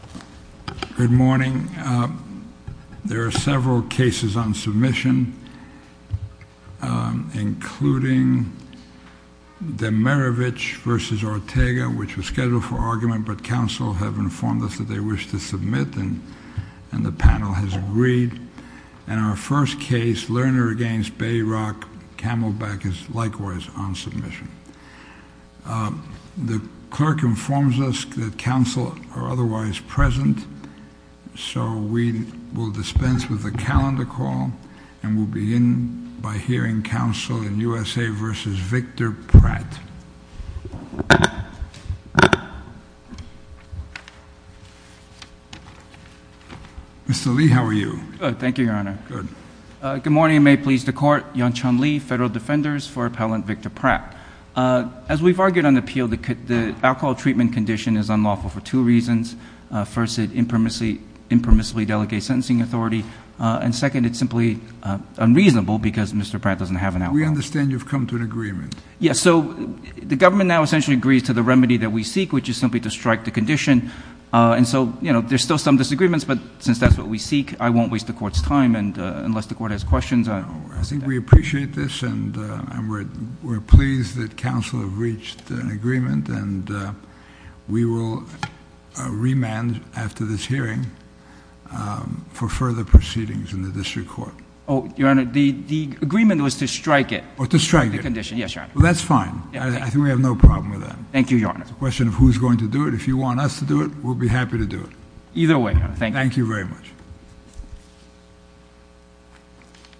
Good morning. There are several cases on submission, including Demirovich v. Ortega, which was scheduled for argument, but counsel have informed us that they wish to submit, and the panel has agreed. And our first case, Lerner v. Bayrock, Camelback, is likewise on submission. The clerk informs us that counsel are otherwise present, so we will dispense with the calendar call, and we'll begin by hearing counsel in USA v. Victor Pratt. Mr. Lee, how are you? Good, thank you, Your Honor. Good. Good morning, and may it please the Court. Yong Chun Lee, Federal Defenders for Appellant Victor Pratt. As we've argued on the appeal, the alcohol treatment condition is unlawful for two reasons. First, it impermissibly delegates sentencing authority, and second, it's simply unreasonable because Mr. Pratt doesn't have an alcohol. We understand you've come to an agreement. Yes, so the government now essentially agrees to the remedy that we seek, which is simply to strike the condition. And so, you know, there's still some disagreements, but since that's what we seek, I won't waste the Court's time, and unless the Court has questions. I think we appreciate this, and we're pleased that counsel have reached an agreement, and we will remand after this hearing for further proceedings in the district court. Oh, Your Honor, the agreement was to strike it. To strike it. Yes, Your Honor. Well, that's fine. I think we have no problem with that. Thank you, Your Honor. It's a question of who's going to do it. If you want us to do it, we'll be happy to do it. Either way, Your Honor, thank you. Thank you very much.